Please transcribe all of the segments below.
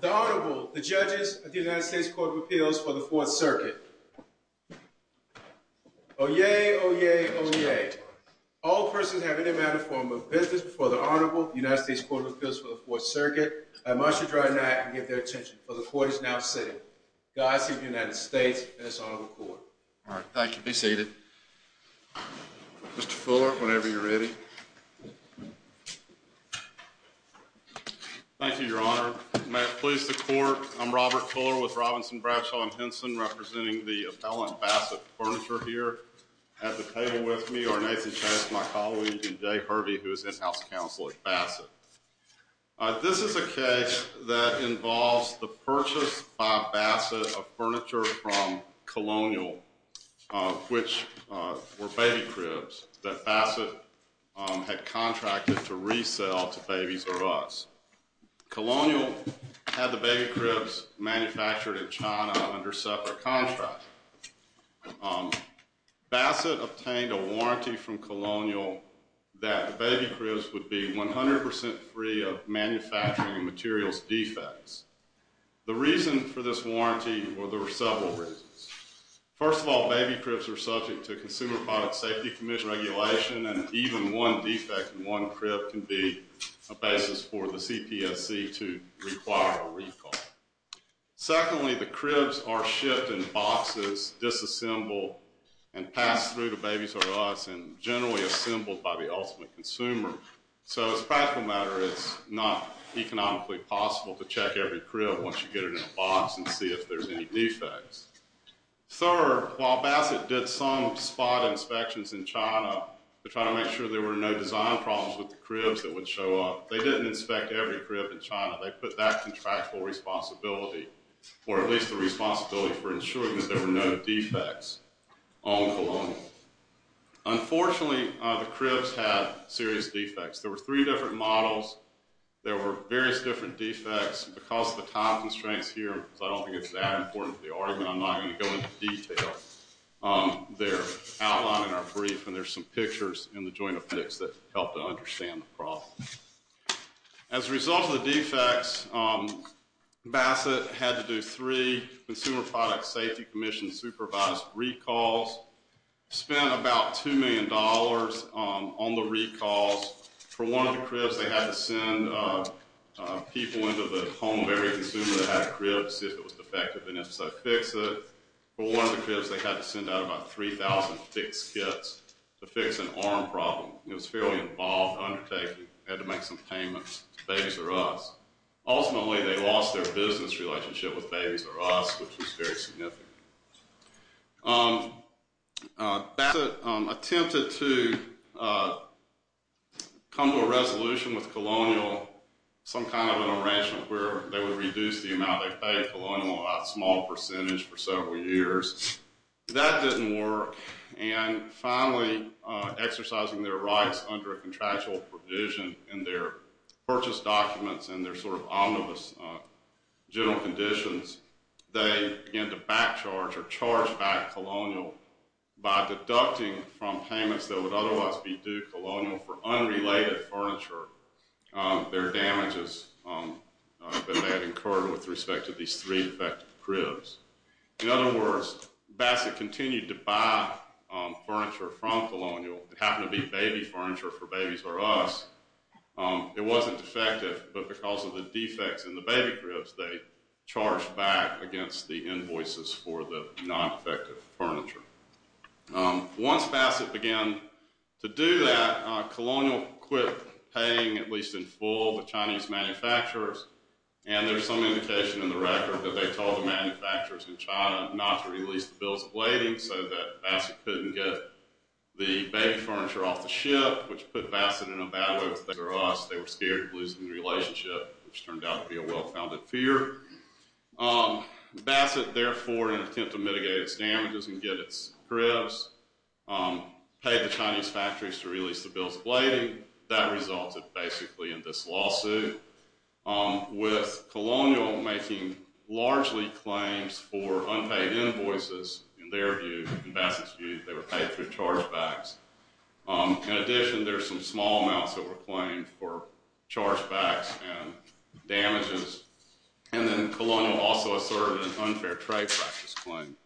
The Honorable, the Judges of the United States Court of Appeals for the Fourth Circuit. Oh yay, oh yay, oh yay. All persons have any amount of form of business before the Honorable United States Court of Appeals for the Fourth Circuit. I must adjourn now and give their attention for the Court is now sitting. God save the United States and its Honorable Court. All right, thank you. Be seated. Mr. Fuller, whenever you're ready. Thank you, Your Honor. May it please the Court, I'm Robert Fuller with Robinson Bradshaw and Henson representing the appellant Bassett Furniture here at the table with me are Nathan Chase, my colleague, and Jay Hervey who is in-house counsel at Bassett. This is a case that involves the purchase by Bassett of furniture from Colonial, which were baby cribs that Bassett had contracted to resell to babies or us. Colonial had the baby cribs manufactured in China under separate contracts. Bassett obtained a warranty from Colonial that the baby cribs would be 100% free of manufacturing and materials defects. The reason for this warranty, well there were several reasons. First of all, baby cribs are subject to Consumer Product Safety Commission regulation and even one defect in one crib can be a basis for the CPSC to require a recall. Secondly, the cribs are shipped in boxes, disassembled, and passed through to babies or us and generally assembled by the consumer. So as a practical matter, it's not economically possible to check every crib once you get it in a box and see if there's any defects. Third, while Bassett did some spot inspections in China to try to make sure there were no design problems with the cribs that would show up, they didn't inspect every crib in China. They put that contractual responsibility, or at least the serious defects. There were three different models. There were various different defects. Because of the time constraints here, because I don't think it's that important for the argument, I'm not going to go into detail. They're outlined in our brief and there's some pictures in the joint affix that help to understand the problem. As a result of the defects, Bassett had to do three Consumer Product Safety Commission supervised recalls, spend about two million dollars on the recalls. For one of the cribs, they had to send people into the home of every consumer that had a crib to see if it was defective and if so, fix it. For one of the cribs, they had to send out about 3,000 fixed kits to fix an arm problem. It was a fairly involved undertaking. They had to make some payments to babies or us. Ultimately, they lost their business relationship with babies or us, which was very significant. Bassett attempted to come to a resolution with Colonial, some kind of an arrangement where they would reduce the amount they paid Colonial by a small percentage for several years. That didn't work and finally, exercising their rights under a contractual provision in their purchase documents and their sort of omnibus general conditions, they began to back charge or charge back Colonial by deducting from payments that would otherwise be due Colonial for unrelated furniture their damages that they had incurred with respect to these three defective cribs. In other words, Bassett continued to buy furniture from Colonial. It happened to be baby furniture for babies or us. It wasn't defective, but because of the defects in the baby cribs, they charged back against the invoices for the non-effective furniture. Once Bassett began to do that, Colonial quit paying at least in full the Chinese manufacturers and there's some indication in the record that they told the manufacturers in China not to release the bills of lading so that which put Bassett in a bad way for us. They were scared of losing the relationship which turned out to be a well-founded fear. Bassett therefore, in an attempt to mitigate its damages and get its cribs, paid the Chinese factories to release the bills of lading. That resulted basically in this lawsuit with Colonial making largely claims for unpaid invoices. In their view, in Bassett's view, they were paid through chargebacks. In addition, there's some small amounts that were claimed for chargebacks and damages and then Colonial also asserted an unfair trade practice claim.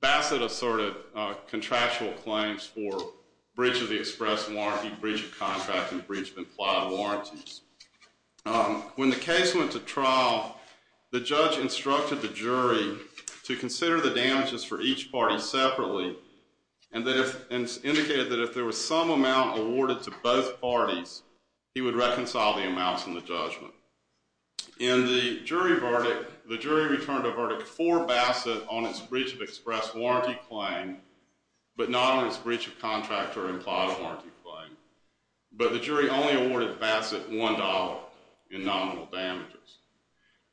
Bassett asserted contractual claims for breach of the express warranty, breach of contract, and breach of implied warranties. When the case went to trial, the judge instructed the jury to consider the and indicated that if there was some amount awarded to both parties, he would reconcile the amounts in the judgment. In the jury verdict, the jury returned a verdict for Bassett on its breach of express warranty claim but not on its breach of contract or implied warranty claim, but the jury only awarded Bassett $1 in nominal damages.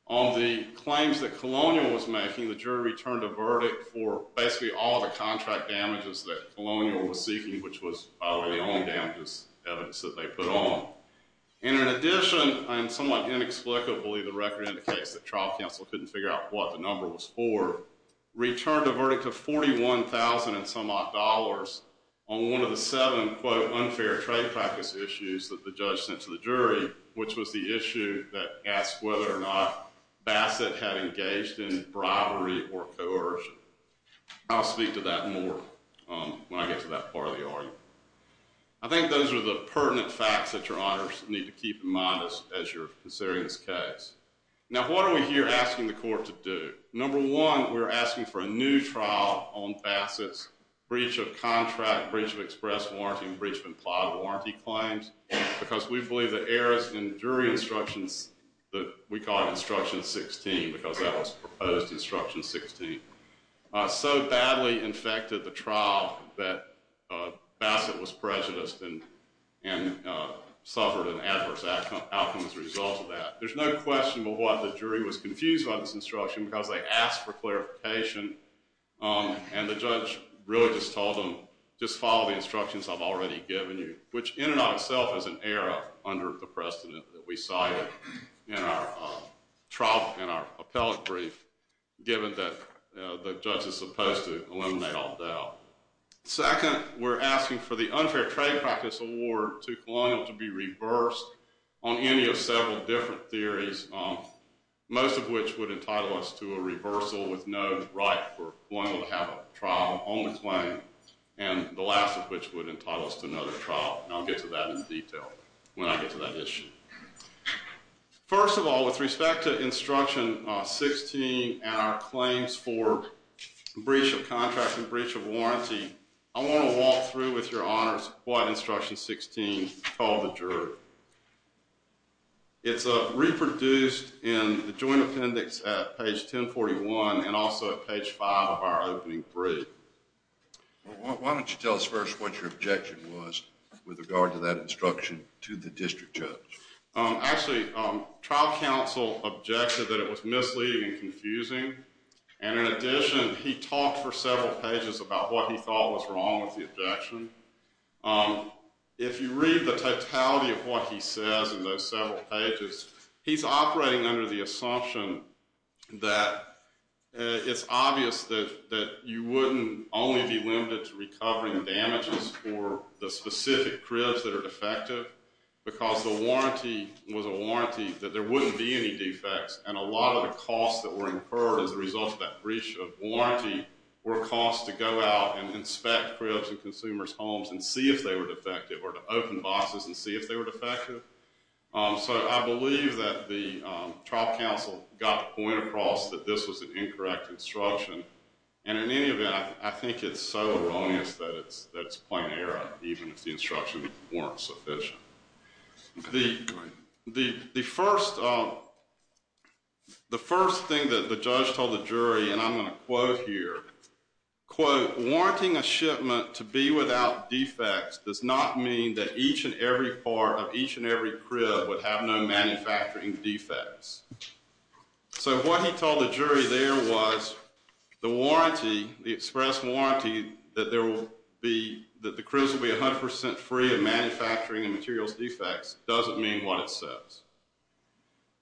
On the claims that Colonial was making, the jury returned a verdict for basically all the contract damages that Colonial was seeking, which was probably the only damages evidence that they put on. And in addition, and somewhat inexplicably, the record indicates that trial counsel couldn't figure out what the number was for, returned a verdict of $41,000 and some odd dollars on one of the seven, quote, unfair trade practice issues that the judge sent to the jury, which was the issue that asked whether or not or coercion. I'll speak to that more when I get to that part of the argument. I think those are the pertinent facts that your honors need to keep in mind as you're considering this case. Now, what are we here asking the court to do? Number one, we're asking for a new trial on Bassett's breach of contract, breach of express warranty, and breach of implied warranty claims, because we believe that errors in jury instructions that we call instruction 16, because that was proposed instruction 16, so badly infected the trial that Bassett was prejudiced and suffered an adverse outcome as a result of that. There's no question of what the jury was confused by this instruction, because they asked for clarification. And the judge really just told them, just follow the instructions I've already given you, which in and of itself is an error under the precedent that we cited in our trial, in our appellate brief, given that the judge is supposed to eliminate all doubt. Second, we're asking for the unfair trade practice award to Colonial to be reversed on any of several different theories, most of which would entitle us to a reversal with no right for Colonial to have a trial on the claim, and the last of which would not get to that issue. First of all, with respect to instruction 16 and our claims for breach of contract and breach of warranty, I want to walk through with your honors what instruction 16 told the juror. It's reproduced in the joint appendix at page 1041 and also at page 5 of our opening brief. Why don't you tell us first what your objection was with regard to that instruction to the district judge? Actually, trial counsel objected that it was misleading and confusing, and in addition, he talked for several pages about what he thought was wrong with the objection. If you read the totality of what he says in those several pages, he's operating under the assumption that it's obvious that you wouldn't only be limited to recovering damages for the specific cribs that are defective, because the warranty was a warranty that there wouldn't be any defects, and a lot of the costs that were incurred as a result of that breach of warranty were costs to go out and inspect cribs and consumers' homes and see if they were defective or to open boxes and see if they were defective. So, I believe that the trial counsel got the point across that this was an incorrect instruction, and in any event, I think it's so erroneous that it's that it's weren't sufficient. The first thing that the judge told the jury, and I'm going to quote here, quote, warranting a shipment to be without defects does not mean that each and every part of each and every crib would have no manufacturing defects. So, what he told the jury there was the warranty, the express warranty that there will be, that the cribs will be 100% free of manufacturing and materials defects doesn't mean what it says.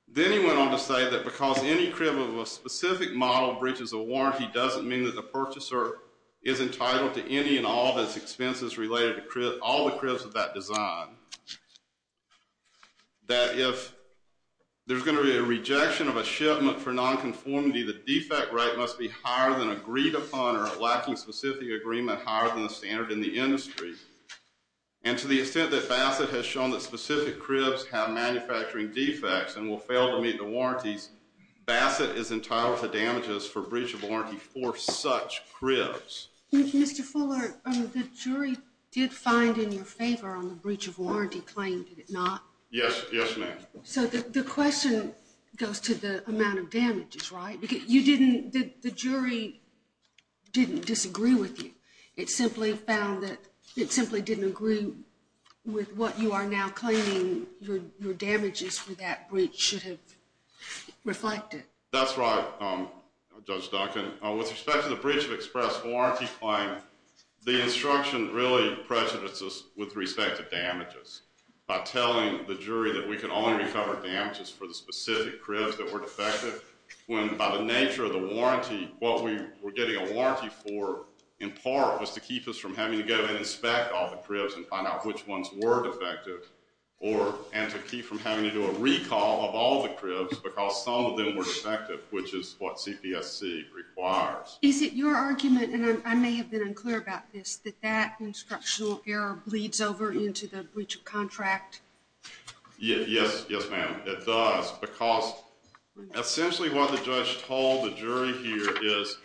Then he went on to say that because any crib of a specific model breaches a warranty doesn't mean that the purchaser is entitled to any and all those expenses related to all the cribs of that design. That if there's going to be a rejection of a shipment for non-conformity, the defect right must be higher than agreed upon or lacking specific agreement higher than the standard in the industry, and to the extent that Bassett has shown that specific cribs have manufacturing defects and will fail to meet the warranties, Bassett is entitled to damages for breach of warranty for such cribs. Mr. Fuller, the jury did find in your amount of damages, right? You didn't, the jury didn't disagree with you. It simply found that it simply didn't agree with what you are now claiming your damages for that breach should have reflected. That's right, Judge Duncan. With respect to the breach of express warranty claim, the instruction really prejudices with respect to damages by telling the jury that we can only cover damages for the specific cribs that were defective when by the nature of the warranty, what we were getting a warranty for in part was to keep us from having to go and inspect all the cribs and find out which ones were defective or and to keep from having to do a recall of all the cribs because some of them were defective, which is what CPSC requires. Is it your argument, and I may have been unclear about this, that that instructional error bleeds over into the breach contract? Yes, yes ma'am. It does because essentially what the judge told the jury here is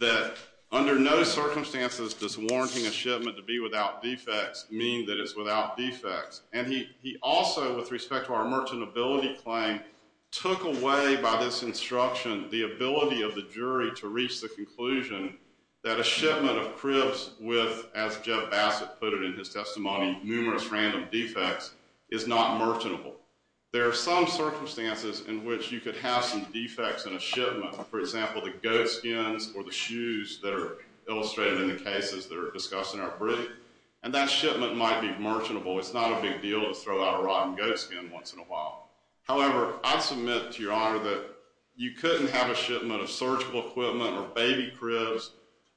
that under no circumstances does warranting a shipment to be without defects mean that it's without defects and he also with respect to our merchant ability claim took away by this instruction the ability of the jury to reach the conclusion that a shipment of cribs with, as Jeff Bassett put it in his testimony, numerous random defects is not merchantable. There are some circumstances in which you could have some defects in a shipment, for example the goat skins or the shoes that are illustrated in the cases that are discussed in our brief, and that shipment might be merchantable. It's not a big deal to throw out a rotten goat skin once in a while. However, I submit to your honor that you couldn't have a shipment of searchable equipment or baby cribs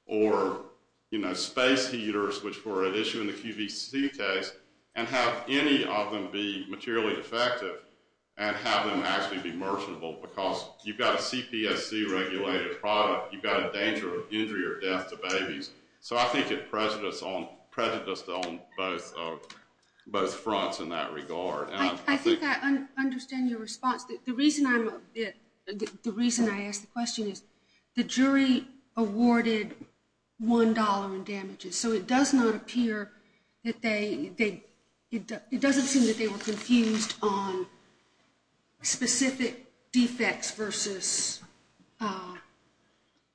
or you know space heaters which were at issue in the QVC case and have any of them be materially defective and have them actually be merchantable because you've got a CPSC regulated product. You've got a danger of injury or death to babies. So I think it prejudiced on both fronts in that regard. I think I understand your response. The reason I'm a bit, the reason I asked the question is the jury awarded one dollar in damages. So it does not appear that they, it doesn't seem that they were confused on specific defects versus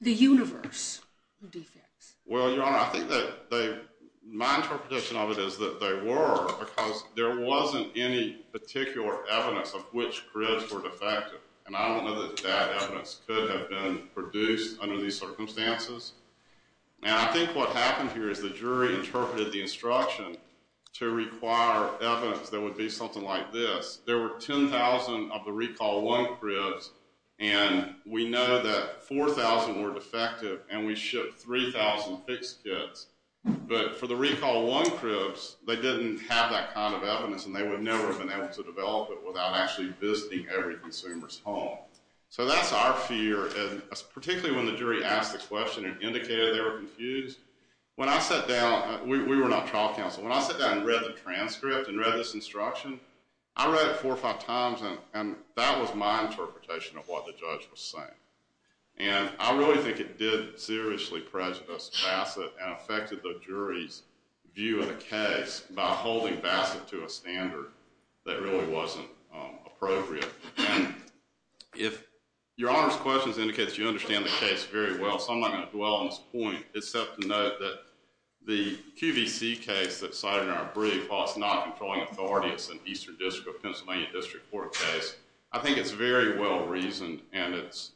the universe of defects. Well your honor I think that they, my interpretation of it is that they were because there wasn't any particular evidence of which cribs were defective. And I don't know that that evidence could have been produced under these circumstances. And I think what happened here is the jury interpreted the instruction to require evidence that would be something like this. There were 10,000 of the recall one cribs and we know that 4,000 were defective and we shipped 3,000 fixed kits. But for the recall one cribs, they didn't have that kind of evidence and they would never have been able to develop it without actually visiting every consumer's home. So that's our fear and particularly when the jury asked this question and indicated they were confused. When I sat down, we were not trial counsel, when I sat down and read the transcript and read this instruction, I read it four or five times and that was my interpretation of what the judge was saying. And I really think it did seriously prejudice Bassett and affected the jury's view of the case by holding Bassett to a standard that really wasn't appropriate. And if Your Honor's questions indicates you understand the case very well, so I'm not going to dwell on this point except to note that the QVC case that's cited in our brief, while it's not a controlling authority, it's an Eastern District or Pennsylvania District Court case, I think it's very well reasoned and it's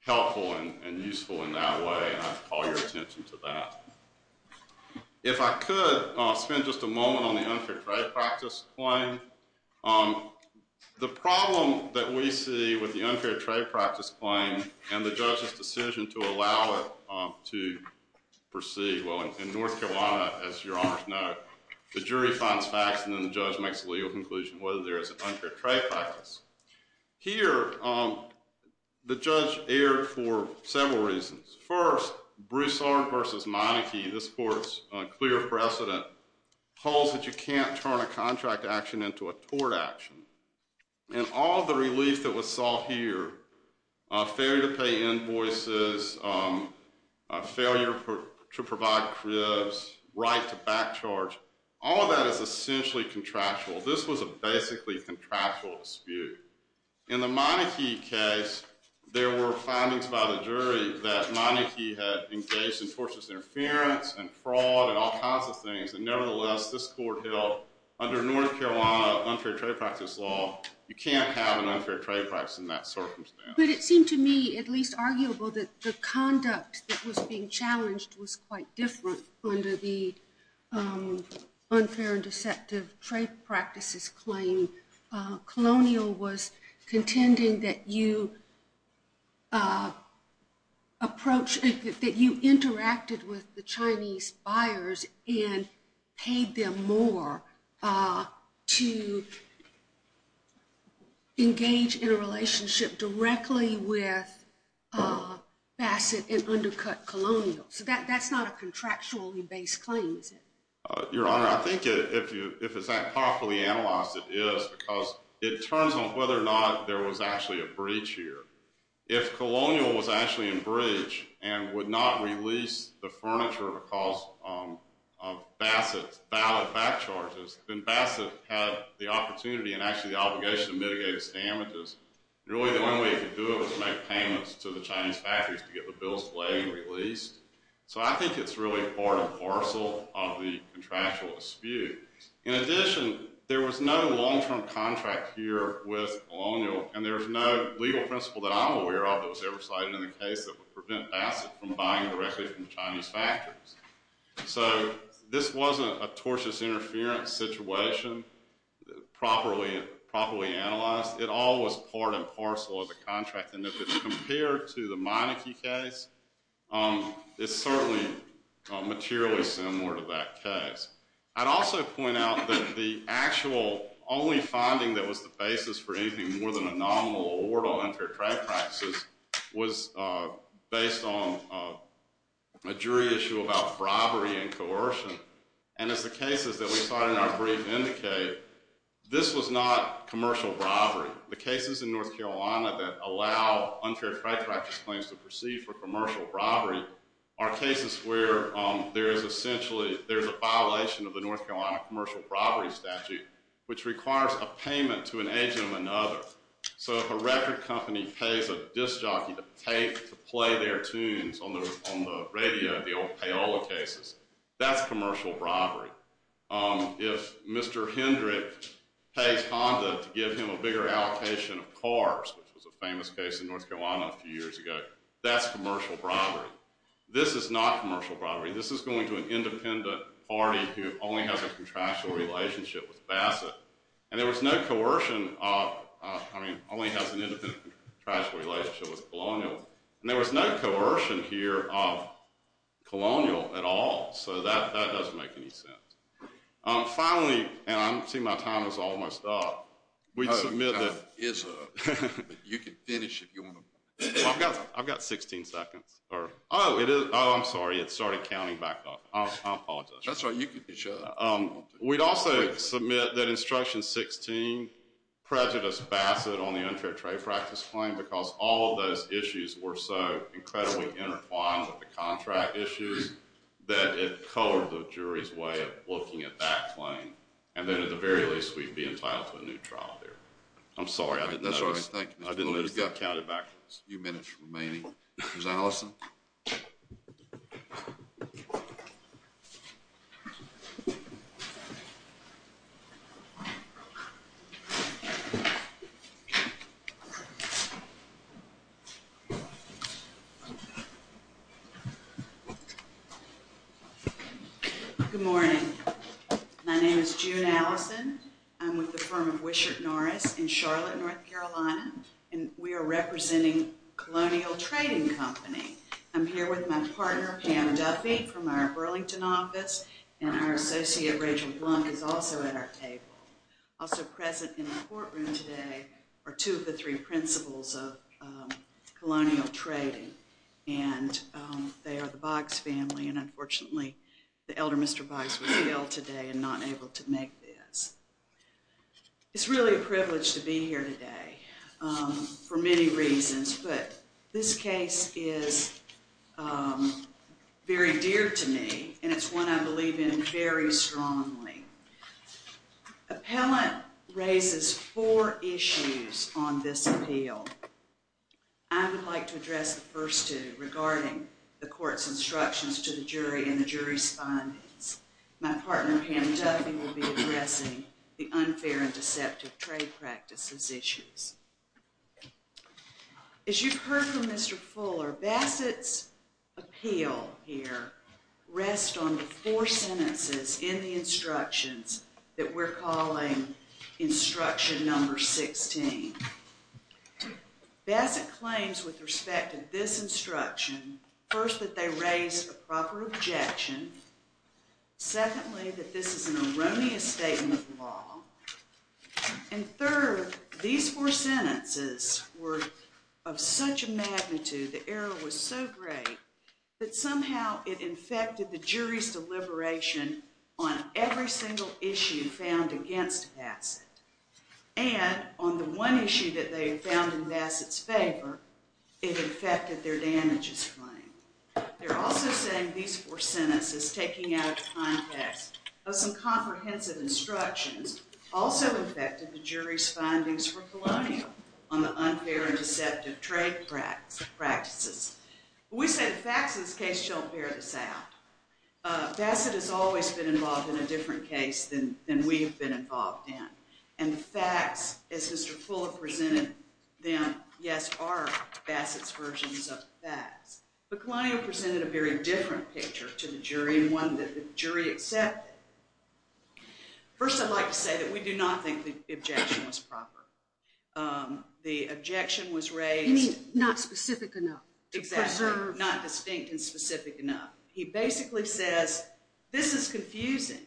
helpful and useful in that way and I'd call your attention to that. If I could spend just a moment on the unfair trade practice. The problem that we see with the unfair trade practice claim and the judge's decision to allow it to proceed, well in North Carolina, as Your Honor's know, the jury finds facts and then the judge makes a legal conclusion whether there is an unfair trade practice. Here, the judge erred for several reasons. First, Broussard v. Monarchy, this court's clear precedent, holds that you can't turn a contract action into a tort action. And all the relief that was sought here, failure to pay invoices, failure to provide cribs, right to back charge, all of that is essentially contractual. This was a basically contractual dispute. In the Monarchy case, there were findings by the jury that Monarchy had engaged in tortious interference and fraud and all kinds of things and nevertheless, this court held under North Carolina unfair trade practice law, you can't have an unfair trade practice in that circumstance. But it seemed to me at least arguable that the conduct that was being challenged was quite different under the unfair and deceptive trade practices claim. Colonial was contending that you interacted with the Chinese buyers and paid them more to engage in a relationship directly with Bassett and undercut Colonial. So that's not a contractually based claim, is it? Your Honor, I think if it's not properly analyzed, it is, because it turns on whether or not there was actually a breach here. If Colonial was actually in breach and would not release the furniture because of Bassett's valid back charges, then Bassett had the opportunity and actually the obligation to mitigate its damages. Really the only way to do it was to make payments to the Chinese factories to get the bills laid and released. So I think it's really part and parcel of the contractual dispute. In addition, there was no long-term contract here with Colonial and there's no legal principle that I'm aware of that was ever cited in the case that would prevent Bassett from buying directly from Chinese factories. So this wasn't a tortious interference situation properly analyzed. It all was part and parcel of the contract and if it's compared to the Meineke case, it's certainly materially similar to that case. I'd also point out that the actual only finding that was the basis for anything more than a jury issue was based on a jury issue about robbery and coercion. And as the cases that we saw in our brief indicate, this was not commercial robbery. The cases in North Carolina that allow unfair fraud practice claims to proceed for commercial robbery are cases where there is essentially, there's a violation of the North Carolina commercial robbery statute which requires a payment to an agent of another. So if a record company pays a disc jockey to play their tunes on the on the radio, the old payola cases, that's commercial robbery. If Mr. Hendrick pays Honda to give him a bigger allocation of cars, which was a famous case in North Carolina a few years ago, that's commercial robbery. This is not commercial robbery. This is going to an independent party who only has a contractual relationship with Bassett. And there was no coercion of, I mean, only has an independent contractual relationship with Colonial. And there was no coercion here of Colonial at all. So that that doesn't make any sense. Finally, and I'm seeing my time is almost up, we'd submit that is a you can finish if you want to. I've got 16 seconds or oh it is oh I'm sorry it started counting back off. I apologize. That's all right, you can shut up. We'd also submit that instruction 16 prejudice Bassett on the unfair trade practice claim because all of those issues were so incredibly intertwined with the contract issues that it colored the jury's way of looking at that claim. And then at the very least we'd be entitled to a new trial here. I'm sorry I didn't notice. I didn't let it count it backwards. A few minutes remaining. Ms. Allison. Good morning. My name is June Allison. I'm with the firm of Wishart Norris in Charlotte, North Carolina and we are representing Colonial Trading Company. I'm here with my partner Pam Duffy from our Burlington office and our associate Rachel Blunk is also at our table. Also present in the courtroom today are two of the three principals of Colonial Trading and they are the Boggs family and unfortunately the elder Mr. Boggs was killed today and not able to make this. It's really a sad day for many reasons but this case is very dear to me and it's one I believe in very strongly. Appellant raises four issues on this appeal. I would like to address the first two regarding the court's instructions to the jury and the jury's findings. My partner Pam Duffy will be discussing the court practice's issues. As you've heard from Mr. Fuller, Bassett's appeal here rests on the four sentences in the instructions that we're calling instruction number 16. Bassett claims with respect to this instruction first that they raise a proper objection, secondly that this is an erroneous statement of the law, and third these four sentences were of such a magnitude, the error was so great that somehow it infected the jury's deliberation on every single issue found against Bassett and on the one issue that they found in Bassett's favor, it infected their damages claim. They're also saying these four sentences taking out of context of some comprehensive instructions also affected the jury's findings for Colonial on the unfair and deceptive trade practices. We said facts in this case don't bear this out. Bassett has always been involved in a different case than we've been involved in and the facts as Mr. Fuller presented them, yes are Bassett's versions of facts, but Colonial presented a very different picture to the jury and one that the jury accepted. First I'd like to say that we do not think the objection was proper. The objection was raised not specific enough to preserve, not distinct and specific enough. He basically says this is confusing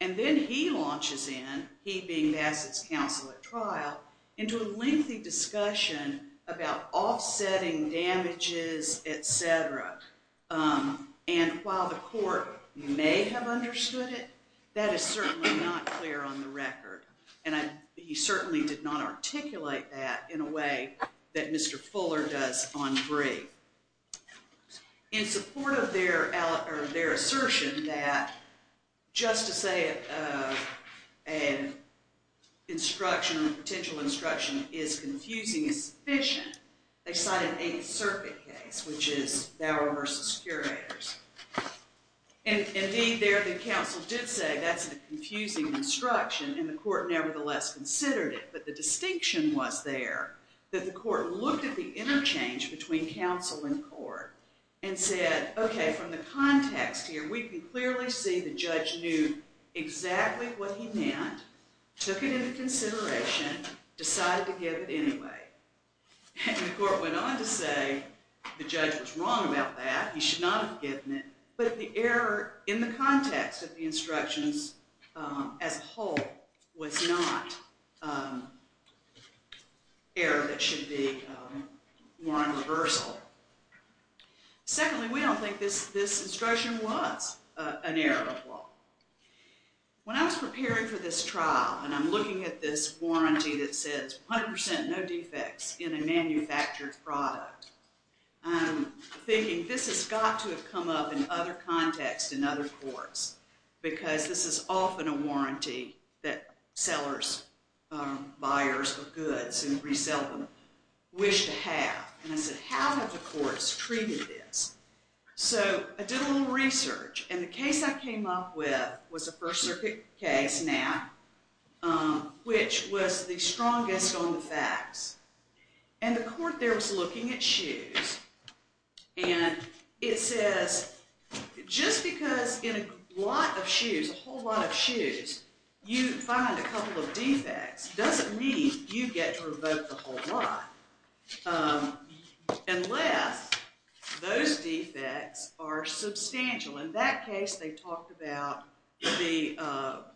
and then he launches in, he being Bassett's counsel at trial, into a lengthy discussion about offsetting damages, etc. and while the court may have understood it, that is certainly not clear on the record and he certainly did not articulate that in a way that Mr. Fuller does on brief. In support of their assertion that just to say an instruction or potential instruction is confusing is sufficient, they cited eighth circuit case which is Bauer versus Curators and indeed there the counsel did say that's a confusing instruction and the court nevertheless considered it, but the distinction was there that the court looked at the interchange between counsel and court and said okay from the context here we can clearly see that the judge knew exactly what he meant, took it into consideration, decided to give it anyway. And the court went on to say the judge was wrong about that, he should not have given it, but the error in the context of the instructions as a whole was not error that should be more on reversal. Secondly we don't think this instruction was an error of law. When I was preparing for this trial and I'm looking at this warranty that says 100% no defects in a manufactured product, I'm thinking this has got to have come up in other contexts in other courts because this is often a warranty that sellers, buyers of goods and resell them wish to have and I said how have the courts treated this? So I did a little research and the case I came up with was a First Circuit case now which was the strongest on the facts and the court there was looking at shoes and it says just because in a lot of shoes, a whole lot of shoes, you find a couple of defects doesn't mean you get to revoke the whole lot unless those defects are substantial. In that case they talked about the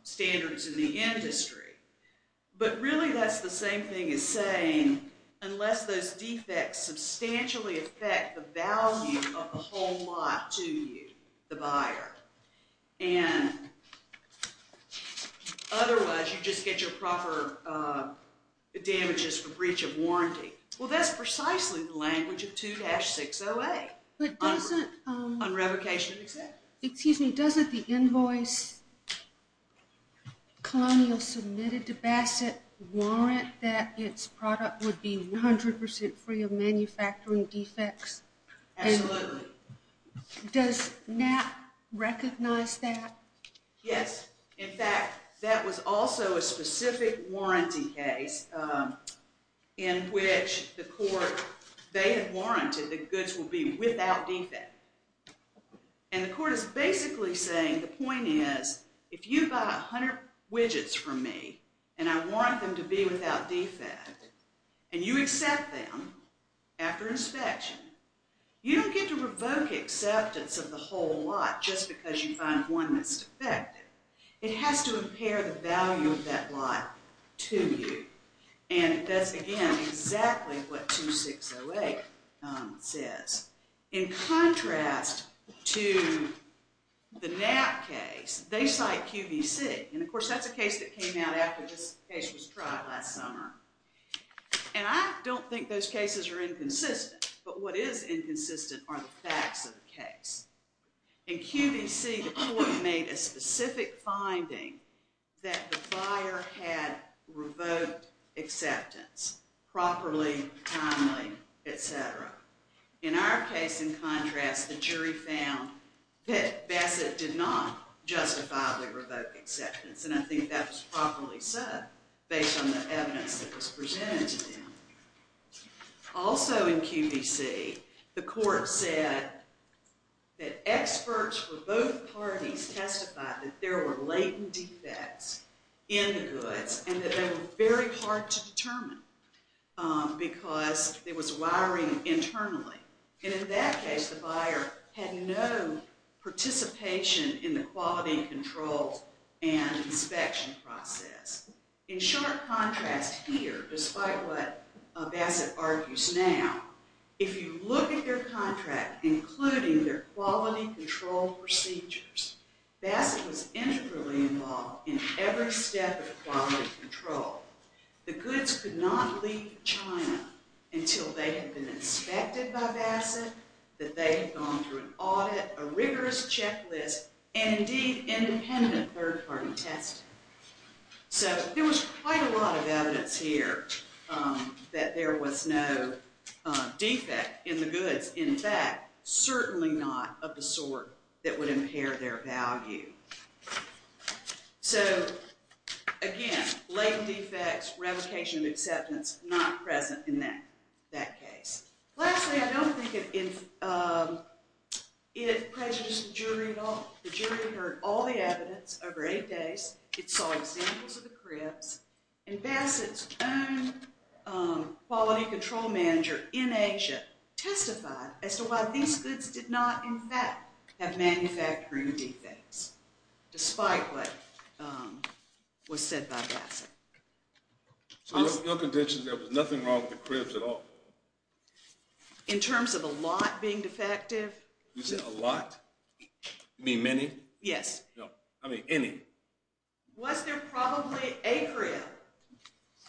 standards in the industry, but really that's the same thing as saying unless those defects substantially affect the value of the whole lot to you, the buyer, and otherwise you just get your proper damages for breach of warranty. Well that's precisely the language of 2-608 on revocation of exemptions. Excuse me, doesn't the invoice Colonial submitted to Bassett warrant that its product would be 100% free of manufacturing defects? Absolutely. Does NAP recognize that? Yes, in fact that was also a specific warranty case in which the court they had warranted the goods will be without defect and the court is basically saying the point is if you buy 100 widgets from me and I want them to be without defect and you accept them after inspection, you don't get to revoke acceptance of the whole lot just because you find one that's defective. It has to impair the value of that lot to you and that's again exactly what 2-608 says. In contrast to the NAP case, they cite QVC and of course that's a case that came out after this case was tried last summer and I don't think those cases are inconsistent but what is inconsistent are the facts of the case. In QVC the court made a specific finding that the buyer had revoked acceptance properly, timely, etc. In our case in contrast the jury found that Bassett did not justifiably revoke acceptance and I think that was properly said based on the evidence that was presented to them. Also in QVC the court said that experts for both parties testified that there were latent defects in the goods and that they were very hard to participate in the quality and control and inspection process. In short contrast here despite what Bassett argues now, if you look at their contract including their quality control procedures, Bassett was integrally involved in every step of quality control. The goods could not leave China until they had been inspected by Bassett, that they had gone through an audit, a rigorous checklist and indeed independent third-party testing. So there was quite a lot of evidence here that there was no defect in the goods, in fact certainly not of the sort that would impair their value. So again latent defects, revocation of acceptance, not present in that case. Lastly I don't think it prejudices the jury at all. The jury heard all the evidence over eight days, it saw examples of the cribs and Bassett's own quality control manager in Asia testified as to why these goods did not in fact have manufacturing defects despite what was said by Bassett. So your contention is there was nothing wrong with the cribs at all? In terms of a lot being defective. You said a lot? You mean many? Yes. No, I mean any. Was there probably a crib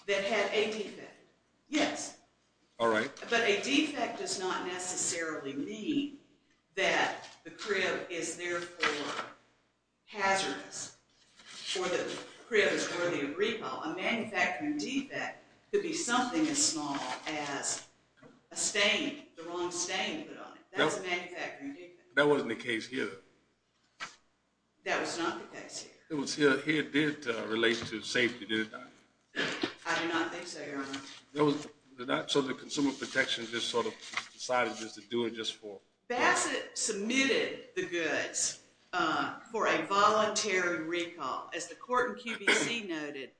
that had a defect? Yes. All right. But a defect does not necessarily mean that the crib is therefore hazardous or the crib is worthy of repo. A manufacturing defect could be something as small as a stain, the wrong stain to put on it. That's a manufacturing defect. That wasn't the case here. That was not the case here. It was here. Here it did relate to safety, did it not? I do not think so, Your Honor. So the Consumer Protection just sort of decided just to do it just for. Bassett submitted the goods for a voluntary recall as the court and QBC noted.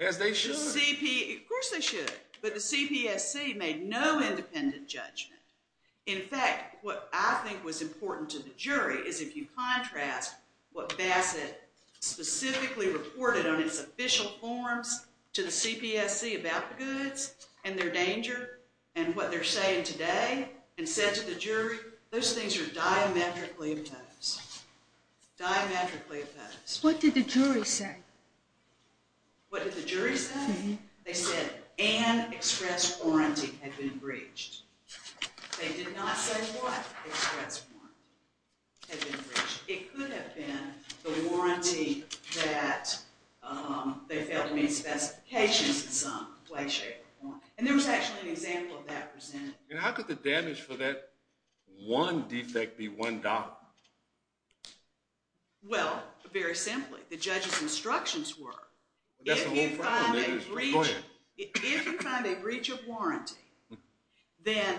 As they should. Of course they should, but the CPSC made no independent judgment. In fact, what I think was important to the jury is if you contrast what Bassett specifically reported on its official forms to the CPSC about the goods and their danger and what they're saying today and said to the jury, those things are diametrically opposed. Diametrically opposed. What did the jury say? What did the jury say? They said an express warranty had been breached. They did not say what express warranty had been breached. It could have been the warranty that they felt made specifications in some way, shape, or form. And there was actually an example of that presented. And how could the damage for that one defect be one dollar? Well, very simply, the judge's instructions were, if you find a breach of warranty, then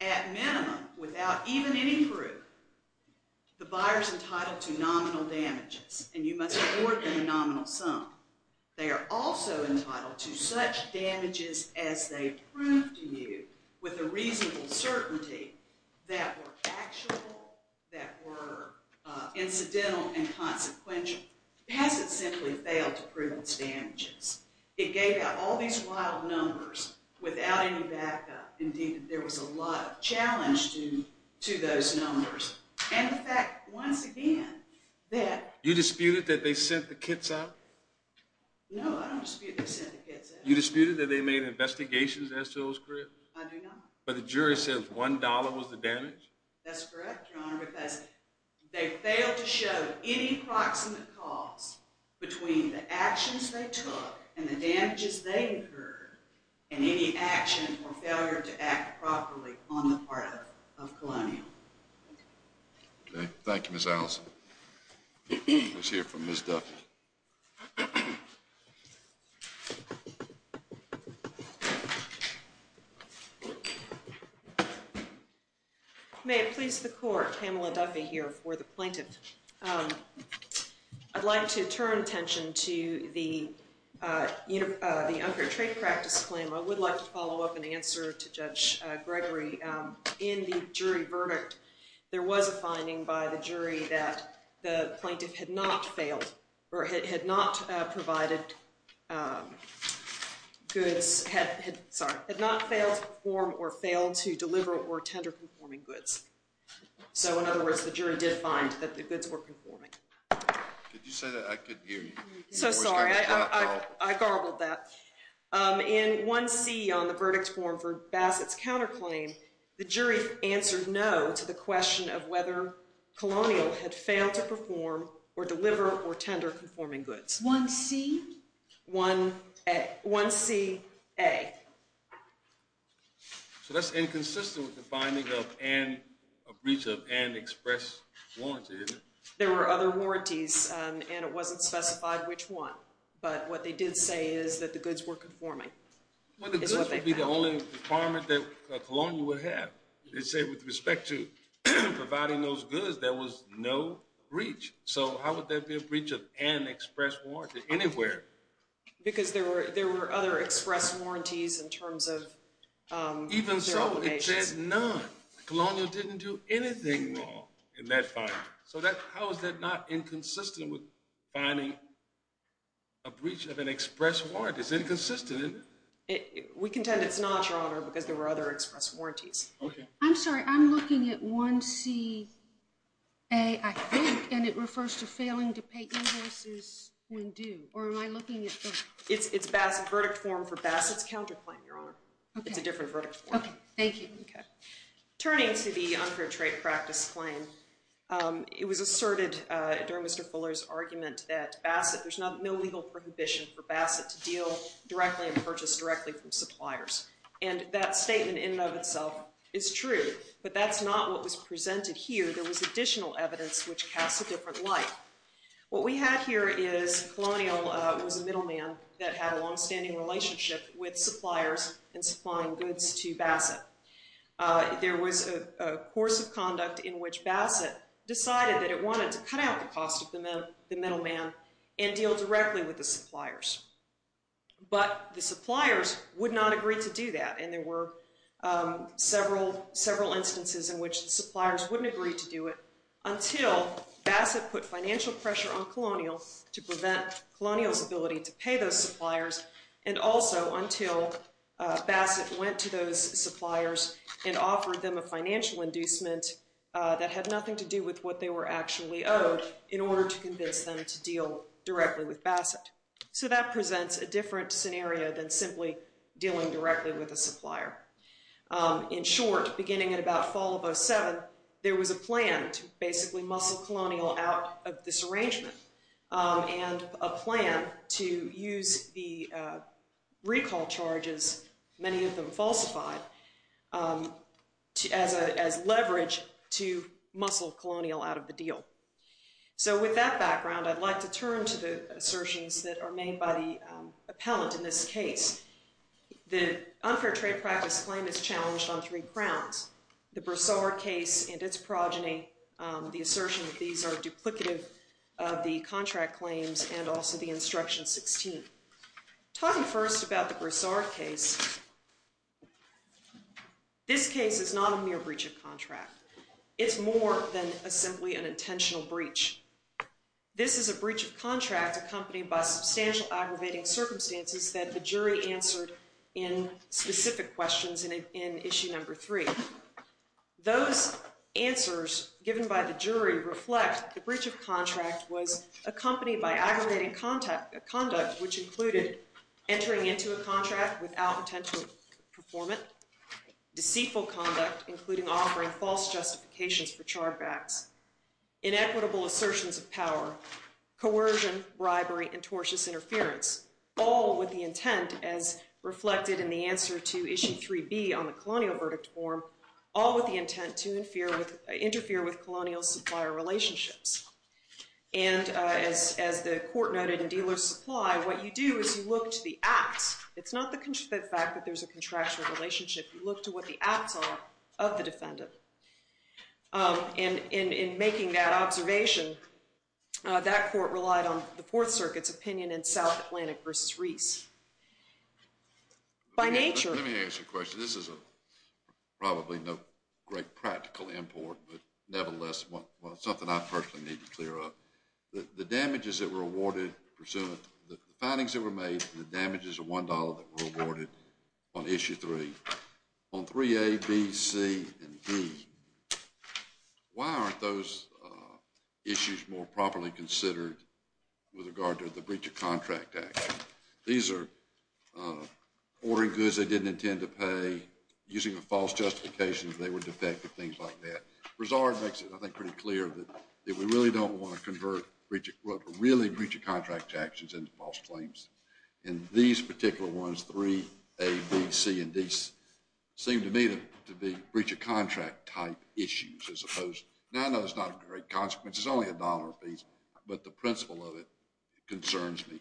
at minimum, without even any proof, the buyer's entitled to nominal damages, and you must award them a nominal sum. They are also entitled to such damages as they prove to you with a reasonable certainty that were factual, that were incidental and consequential. Bassett simply failed to prove its damages. It gave out all these wild numbers without any backup. Indeed, there was a lot of challenge to those numbers. And the fact, once again, that- You disputed that they sent the kits out? No, I don't dispute they sent the kits out. You disputed that they made investigations as to those crips? I do not. But the jury says one dollar was the damage? That's correct, Your Honor, because they failed to show any proximate cause between the actions they took and the damages they incurred, and any action or failure to act properly on the part of Colonial. Okay. Thank you, Ms. Allison. Let's hear from Ms. Duffy. May it please the Court, Pamela Duffy here for the plaintiff. I'd like to turn attention to the Unfair Trade Practice claim. I would like to follow up and answer to Judge Gregory. In the jury verdict, there was a finding by the jury that the plaintiff had not failed or had not provided goods, sorry, had not failed to perform or failed to deliver or tender conforming goods. So, in other words, the jury did find that the goods were conforming. Did you say that? I couldn't hear you. So sorry, I garbled that. In 1C on the verdict form for Bassett's counterclaim, the jury answered no to the question of whether Colonial had failed to perform or deliver or tender conforming goods. 1C? 1A, 1C, A. So that's inconsistent with the finding of and a breach of and express warranty, isn't it? There were other warranties, and it wasn't specified which one. But what they did say is that the goods were conforming. Well, the goods would be the only requirement that Colonial would have. They say with respect to providing those goods, there was no breach. So how would there be a breach of and express warranty anywhere? Because there were other express warranties in terms of their own ages. Even so, it said none. Colonial didn't do anything wrong in that finding. So how is that not inconsistent with finding a breach of an express warranty? It's inconsistent. We contend it's not, Your Honor, because there were other express warranties. Okay. I'm looking at 1C, A, I think, and it refers to failing to pay invoices when due. Or am I looking at both? It's a verdict form for Bassett's counterclaim, Your Honor. It's a different verdict form. Okay. Thank you. Turning to the unfair trade practice claim, it was asserted during Mr. Fuller's argument that there's no legal prohibition for Bassett to deal directly and purchase directly from suppliers. And that statement in and of itself is true. But that's not what was presented here. There was additional evidence which casts a different light. What we have here is Colonial was a middleman that had a longstanding relationship with suppliers in supplying goods to Bassett. There was a course of conduct in which Bassett decided that it wanted to cut out the cost of the middleman and deal directly with the suppliers. But the suppliers would not agree to do that. And there were several instances in which the suppliers wouldn't agree to do it until Bassett put financial pressure on Colonial to prevent Colonial's ability to pay those suppliers, and also until Bassett went to those suppliers and offered them a financial inducement that had nothing to do with what they were actually owed in order to convince them to deal directly with Bassett. So that presents a different scenario than simply dealing directly with a supplier. In short, beginning at about fall of 07, there was a plan to basically muscle Colonial out of this arrangement and a plan to use the recall charges, many of them falsified, as leverage to muscle Colonial out of the deal. So with that background, I'd like to turn to the assertions that are made by the appellant in this case. The unfair trade practice claim is challenged on three crowns, the Broussard case and its progeny, the assertion that these are duplicative of the contract claims, and also the Instruction 16. Talking first about the Broussard case, this case is not a mere breach of contract. It's more than simply an intentional breach. This is a breach of contract accompanied by substantial aggravating circumstances that the jury answered in specific questions in issue number three. Those answers given by the jury reflect the breach of contract was accompanied by aggravating conduct, which included entering into a contract without intent to perform it, deceitful conduct, including offering false justifications for charge backs, inequitable assertions of power, coercion, bribery, and tortious interference, all with the intent, as reflected in the answer to issue 3B on the Colonial verdict form, all with the intent to interfere with Colonial supplier relationships. And as the court noted in Dealer's Supply, what you do is you look to the acts. It's not the fact that there's a contractual relationship. You look to what the acts are of the defendant. And in making that observation, that court relied on the Fourth Circuit's opinion in South Atlantic v. Reese. By nature— Let me ask you a question. This is probably no great practical import, but nevertheless, something I personally need to clear up. The damages that were awarded pursuant—the findings that were made, the damages of $1 that were awarded on issue 3, on 3A, B, C, and D, why aren't those issues more properly considered with regard to the breach of contract action? These are ordering goods they didn't intend to pay, using a false justification that they were defective, things like that. Broussard makes it, I think, pretty clear that we really don't want to convert really breach of contract actions into false claims. And these particular ones, 3A, B, C, and D, seem to me to be breach of contract-type issues as opposed—now, I know it's not a great consequence. It's only $1 apiece, but the principle of it concerns me.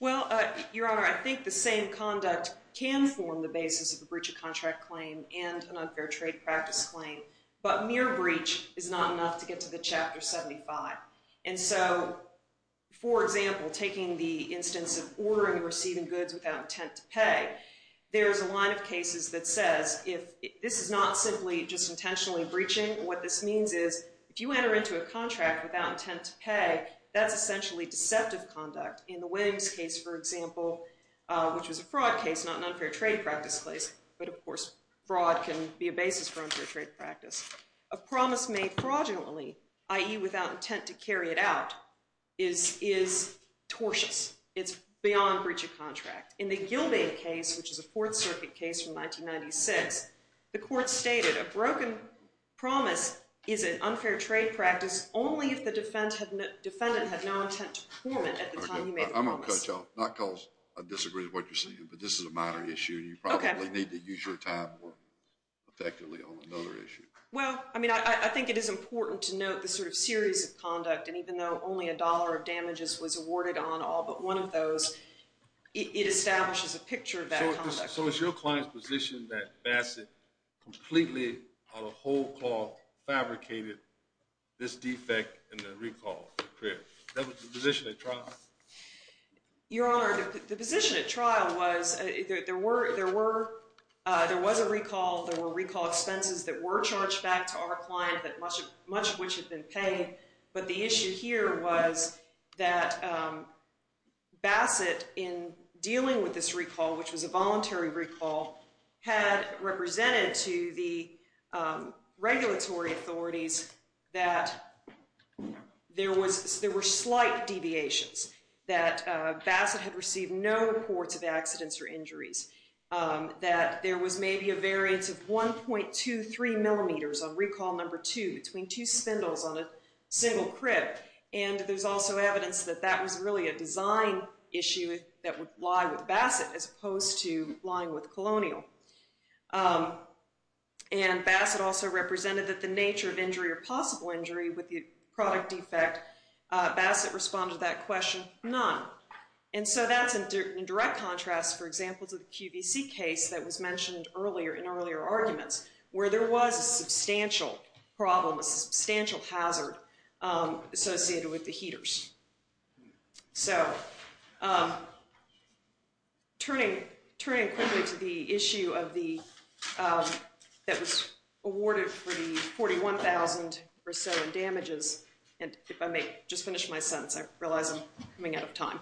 Well, Your Honor, I think the same conduct can form the basis of a breach of contract claim and an unfair trade practice claim. But mere breach is not enough to get to the Chapter 75. And so, for example, taking the instance of ordering or receiving goods without intent to pay, there's a line of cases that says if—this is not simply just intentionally breaching. What this means is if you enter into a contract without intent to pay, that's essentially deceptive conduct. In the Williams case, for example, which was a fraud case, not an unfair trade practice case, but, of course, fraud can be a basis for unfair trade practice. A promise made fraudulently, i.e. without intent to carry it out, is tortious. It's beyond breach of contract. In the Gilbane case, which is a Fourth Circuit case from 1996, the court stated a broken promise is an unfair trade practice only if the defendant had no intent to perform it at the time you made the promise. I'm going to cut you off, not because I disagree with what you're saying, but this is a minor issue, and you probably need to use your time more effectively on another issue. Well, I mean, I think it is important to note the sort of series of conduct, and even though only a dollar of damages was awarded on all but one of those, it establishes a picture of that conduct. So it's your client's position that Bassett completely, on a whole call, fabricated this defect in the recall? That was the position at trial? Your Honor, the position at trial was there was a recall. There were recall expenses that were charged back to our client, much of which had been paid. But the issue here was that Bassett, in dealing with this recall, which was a voluntary recall, had represented to the regulatory authorities that there were slight deviations. That Bassett had received no reports of accidents or injuries. That there was maybe a variance of 1.23 millimeters on recall number two between two spindles on a single crib. And there's also evidence that that was really a design issue that would lie with Bassett as opposed to lying with Colonial. And Bassett also represented that the nature of injury or possible injury with the product defect, Bassett responded to that question, none. And so that's in direct contrast, for example, to the QVC case that was mentioned earlier in earlier arguments, where there was a substantial problem, a substantial hazard associated with the heaters. So turning quickly to the issue that was awarded for the 41,000 or so in damages, and if I just finish my sentence, I realize I'm coming out of time.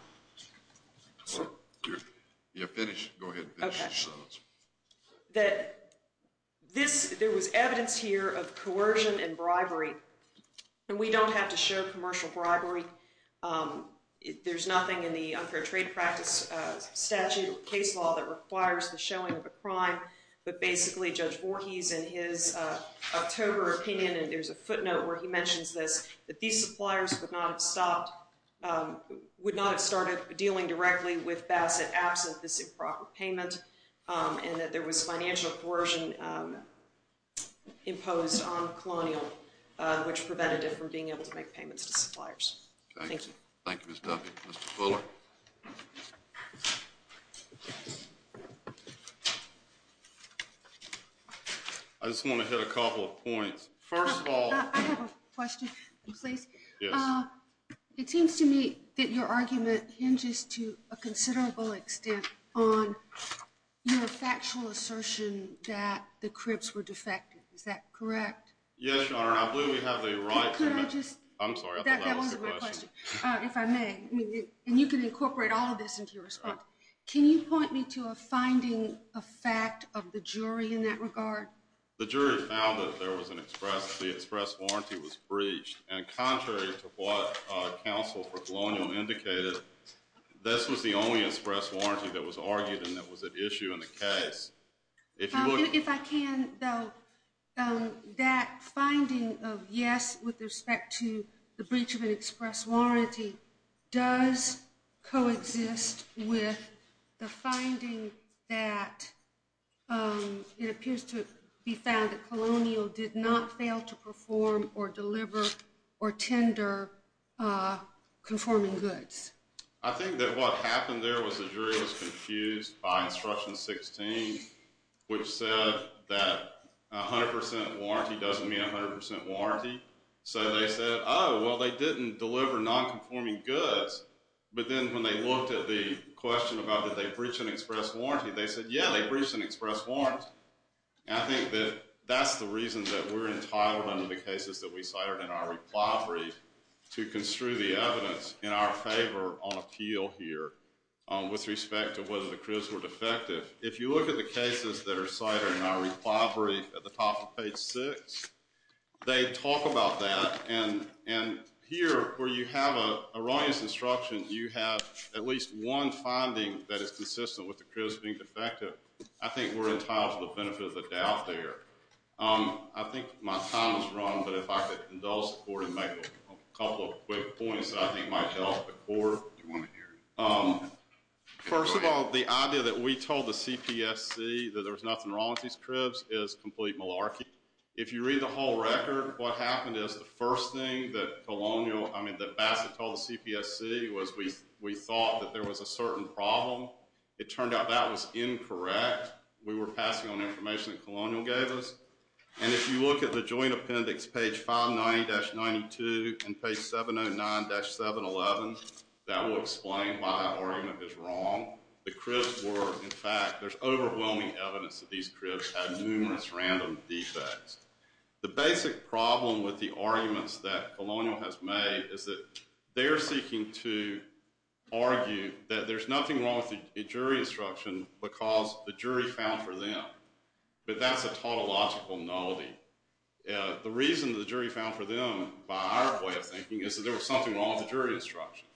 Yeah, finish. Go ahead and finish your sentence. That there was evidence here of coercion and bribery. And we don't have to show commercial bribery. There's nothing in the unfair trade practice statute or case law that requires the showing of a crime. But basically, Judge Voorhees, in his October opinion, and there's a footnote where he mentions this, that these suppliers would not have stopped, would not have started dealing directly with Bassett absent this improper payment, and that there was financial coercion imposed on Colonial, which prevented it from being able to make payments to suppliers. Thank you. Thank you, Ms. Duffy. Mr. Fuller? I just want to hit a couple of points. First of all- I have a question, please. It seems to me that your argument hinges to a considerable extent on your factual assertion that the cribs were defective. Is that correct? Yes, Your Honor. I believe we have a right to- Could I just- I'm sorry, I thought that was a good question. That wasn't my question, if I may. And you can incorporate all of this into your response. Can you point me to a finding, a fact of the jury in that regard? The jury found that there was an express- the express warranty was breached, and contrary to what counsel for Colonial indicated, this was the only express warranty that was argued and that was at issue in the case. If you would- If I can, though, that finding of yes with respect to the breach of an express warranty does coexist with the finding that it appears to be found that Colonial did not fail to perform or deliver or tender conforming goods. I think that what happened there was the jury was confused by Instruction 16, which said that 100% warranty doesn't mean 100% warranty. So they said, oh, well, they didn't deliver nonconforming goods. But then when they looked at the question about did they breach an express warranty, they said, yeah, they breached an express warranty. And I think that that's the reason that we're entitled under the cases that we cited in our reply brief to construe the evidence in our favor on appeal here with respect to whether the cribs were defective. If you look at the cases that are cited in our reply brief at the top of page 6, they talk about that. And here, where you have a erroneous instruction, you have at least one finding that is consistent with the cribs being defective. I think we're entitled to the benefit of the doubt there. I think my time is run, but if I could indulge the Court and make a couple of quick points that I think might help the Court. First of all, the idea that we told the CPSC that there was nothing wrong with these cribs is complete malarkey. If you read the whole record, what happened is the first thing that Bassett told the CPSC was we thought that there was a certain problem. It turned out that was incorrect. We were passing on information that Colonial gave us. And if you look at the joint appendix, page 590-92 and page 709-711, that will explain why our argument is wrong. The cribs were, in fact, there's overwhelming evidence that these cribs had numerous random defects. The basic problem with the arguments that Colonial has made is that they're seeking to argue that there's nothing wrong with the jury instruction because the jury found for them. But that's a tautological nullity. The reason the jury found for them, by our way of thinking, is that there was something wrong with the jury instruction.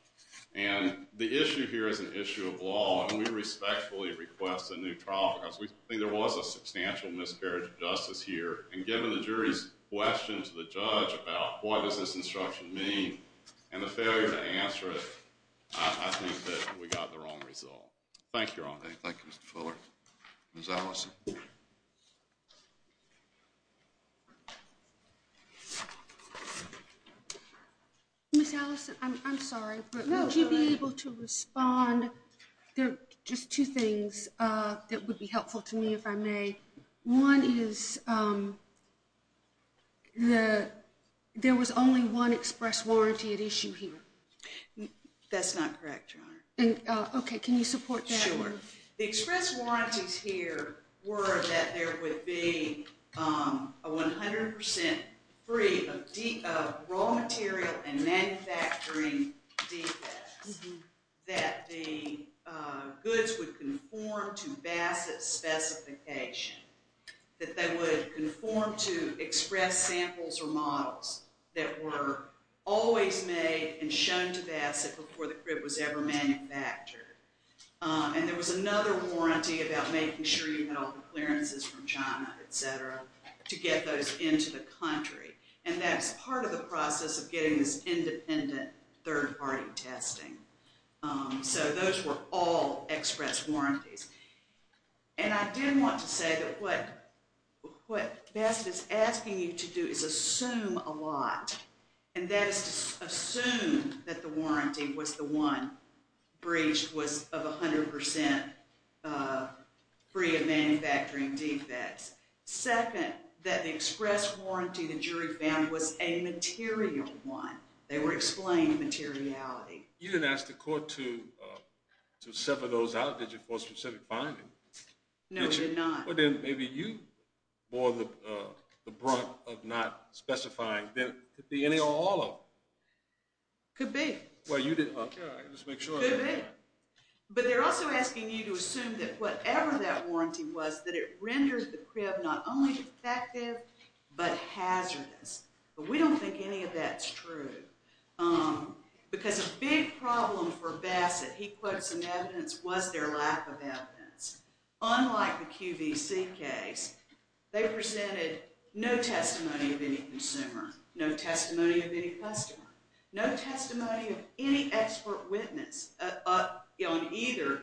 And the issue here is an issue of law. And we respectfully request a new trial because we think there was a substantial miscarriage of justice here. And given the jury's question to the judge about what does this instruction mean and the failure to answer it, I think that we got the wrong result. Thank you, Your Honor. Thank you, Mr. Fuller. Ms. Allison. Ms. Allison, I'm sorry, but would you be able to respond? There are just two things that would be helpful to me if I may. One is there was only one express warranty at issue here. That's not correct, Your Honor. And OK, can you support that? Sure. The express warranties here were that there would be a 100% free of raw material and that they would conform to express samples or models that were always made and shown to Bassett before the crib was ever manufactured. And there was another warranty about making sure you had all the clearances from China, et cetera, to get those into the country. And that's part of the process of getting this independent third-party testing. So those were all express warranties. And I did want to say that what Bassett is asking you to do is assume a lot. And that is to assume that the warranty was the one breached was of 100% free of manufacturing defects. Second, that the express warranty the jury found was a material one. They were explaining materiality. You didn't ask the court to sever those out, did you, for a specific finding? No, we did not. Well, then maybe you bore the brunt of not specifying that there could be any or all of them. Could be. Well, you did. OK, let's make sure. Could be. But they're also asking you to assume that whatever that warranty was, that it renders the crib not only defective but hazardous. But we don't think any of that's true. Because a big problem for Bassett, he puts in evidence, was their lack of evidence. Unlike the QVC case, they presented no testimony of any consumer, no testimony of any customer, no testimony of any expert witness on either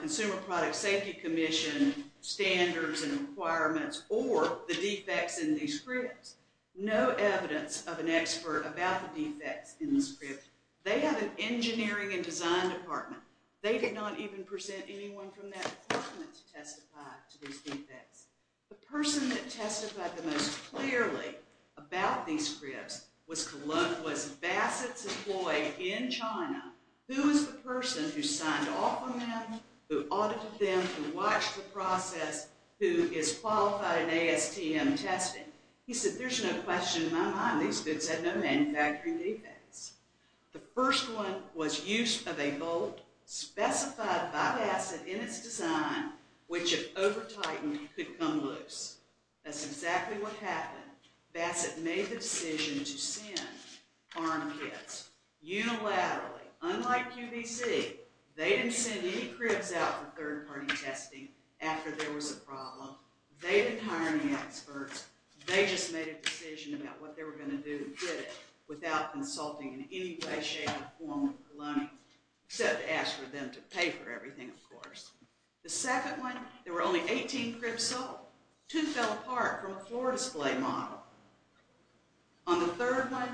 Consumer Product Safety Commission standards and requirements or the defects in these cribs. No evidence of an expert about the defects in this crib. They have an engineering and design department. They did not even present anyone from that department to testify to these defects. The person that testified the most clearly about these cribs was Bassett's employee in China, who is the person who signed off on them, who audited them, who watched the process, who is qualified in ASTM testing. He said, there's no question in my mind these goods had no manufacturing defects. The first one was use of a bolt specified by Bassett in its design, which if over-tightened could come loose. That's exactly what happened. Bassett made the decision to send farm kits unilaterally. Unlike QVC, they didn't send any cribs out for third-party testing after there was a problem. They didn't hire any experts. They just made a decision about what they were going to do and did it without consulting in any way, shape, or form with Colonial, except to ask for them to pay for everything, of course. The second one, there were only 18 cribs sold. Two fell apart from a floor display model. On the third one,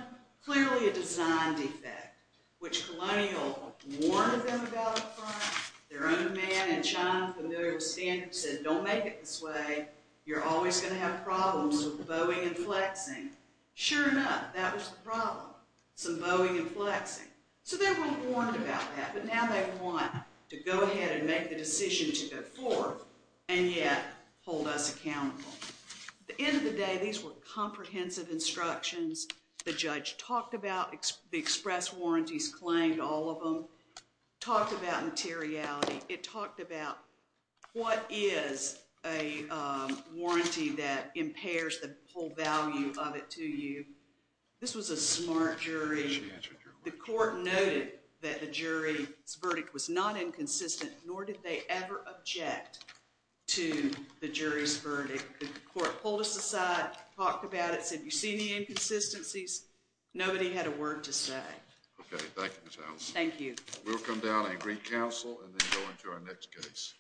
clearly a design defect, which Colonial warned them about up front. Their own man in China, familiar with standards, said, don't make it this way. You're always going to have problems with bowing and flexing. Sure enough, that was the problem, some bowing and flexing. So they were warned about that, but now they want to go ahead and make the decision to go forth and yet hold us accountable. At the end of the day, these were comprehensive instructions. The judge talked about the express warranties claimed, all of them. Talked about materiality. It talked about what is a warranty that impairs the whole value of it to you. This was a smart jury. The court noted that the jury's verdict was not inconsistent, nor did they ever object to the jury's verdict. The court pulled us aside, talked about it, said, you see the inconsistencies? Nobody had a word to say. Okay, thank you, Ms. Allison. Thank you. We'll come down and re-counsel and then go into our next case.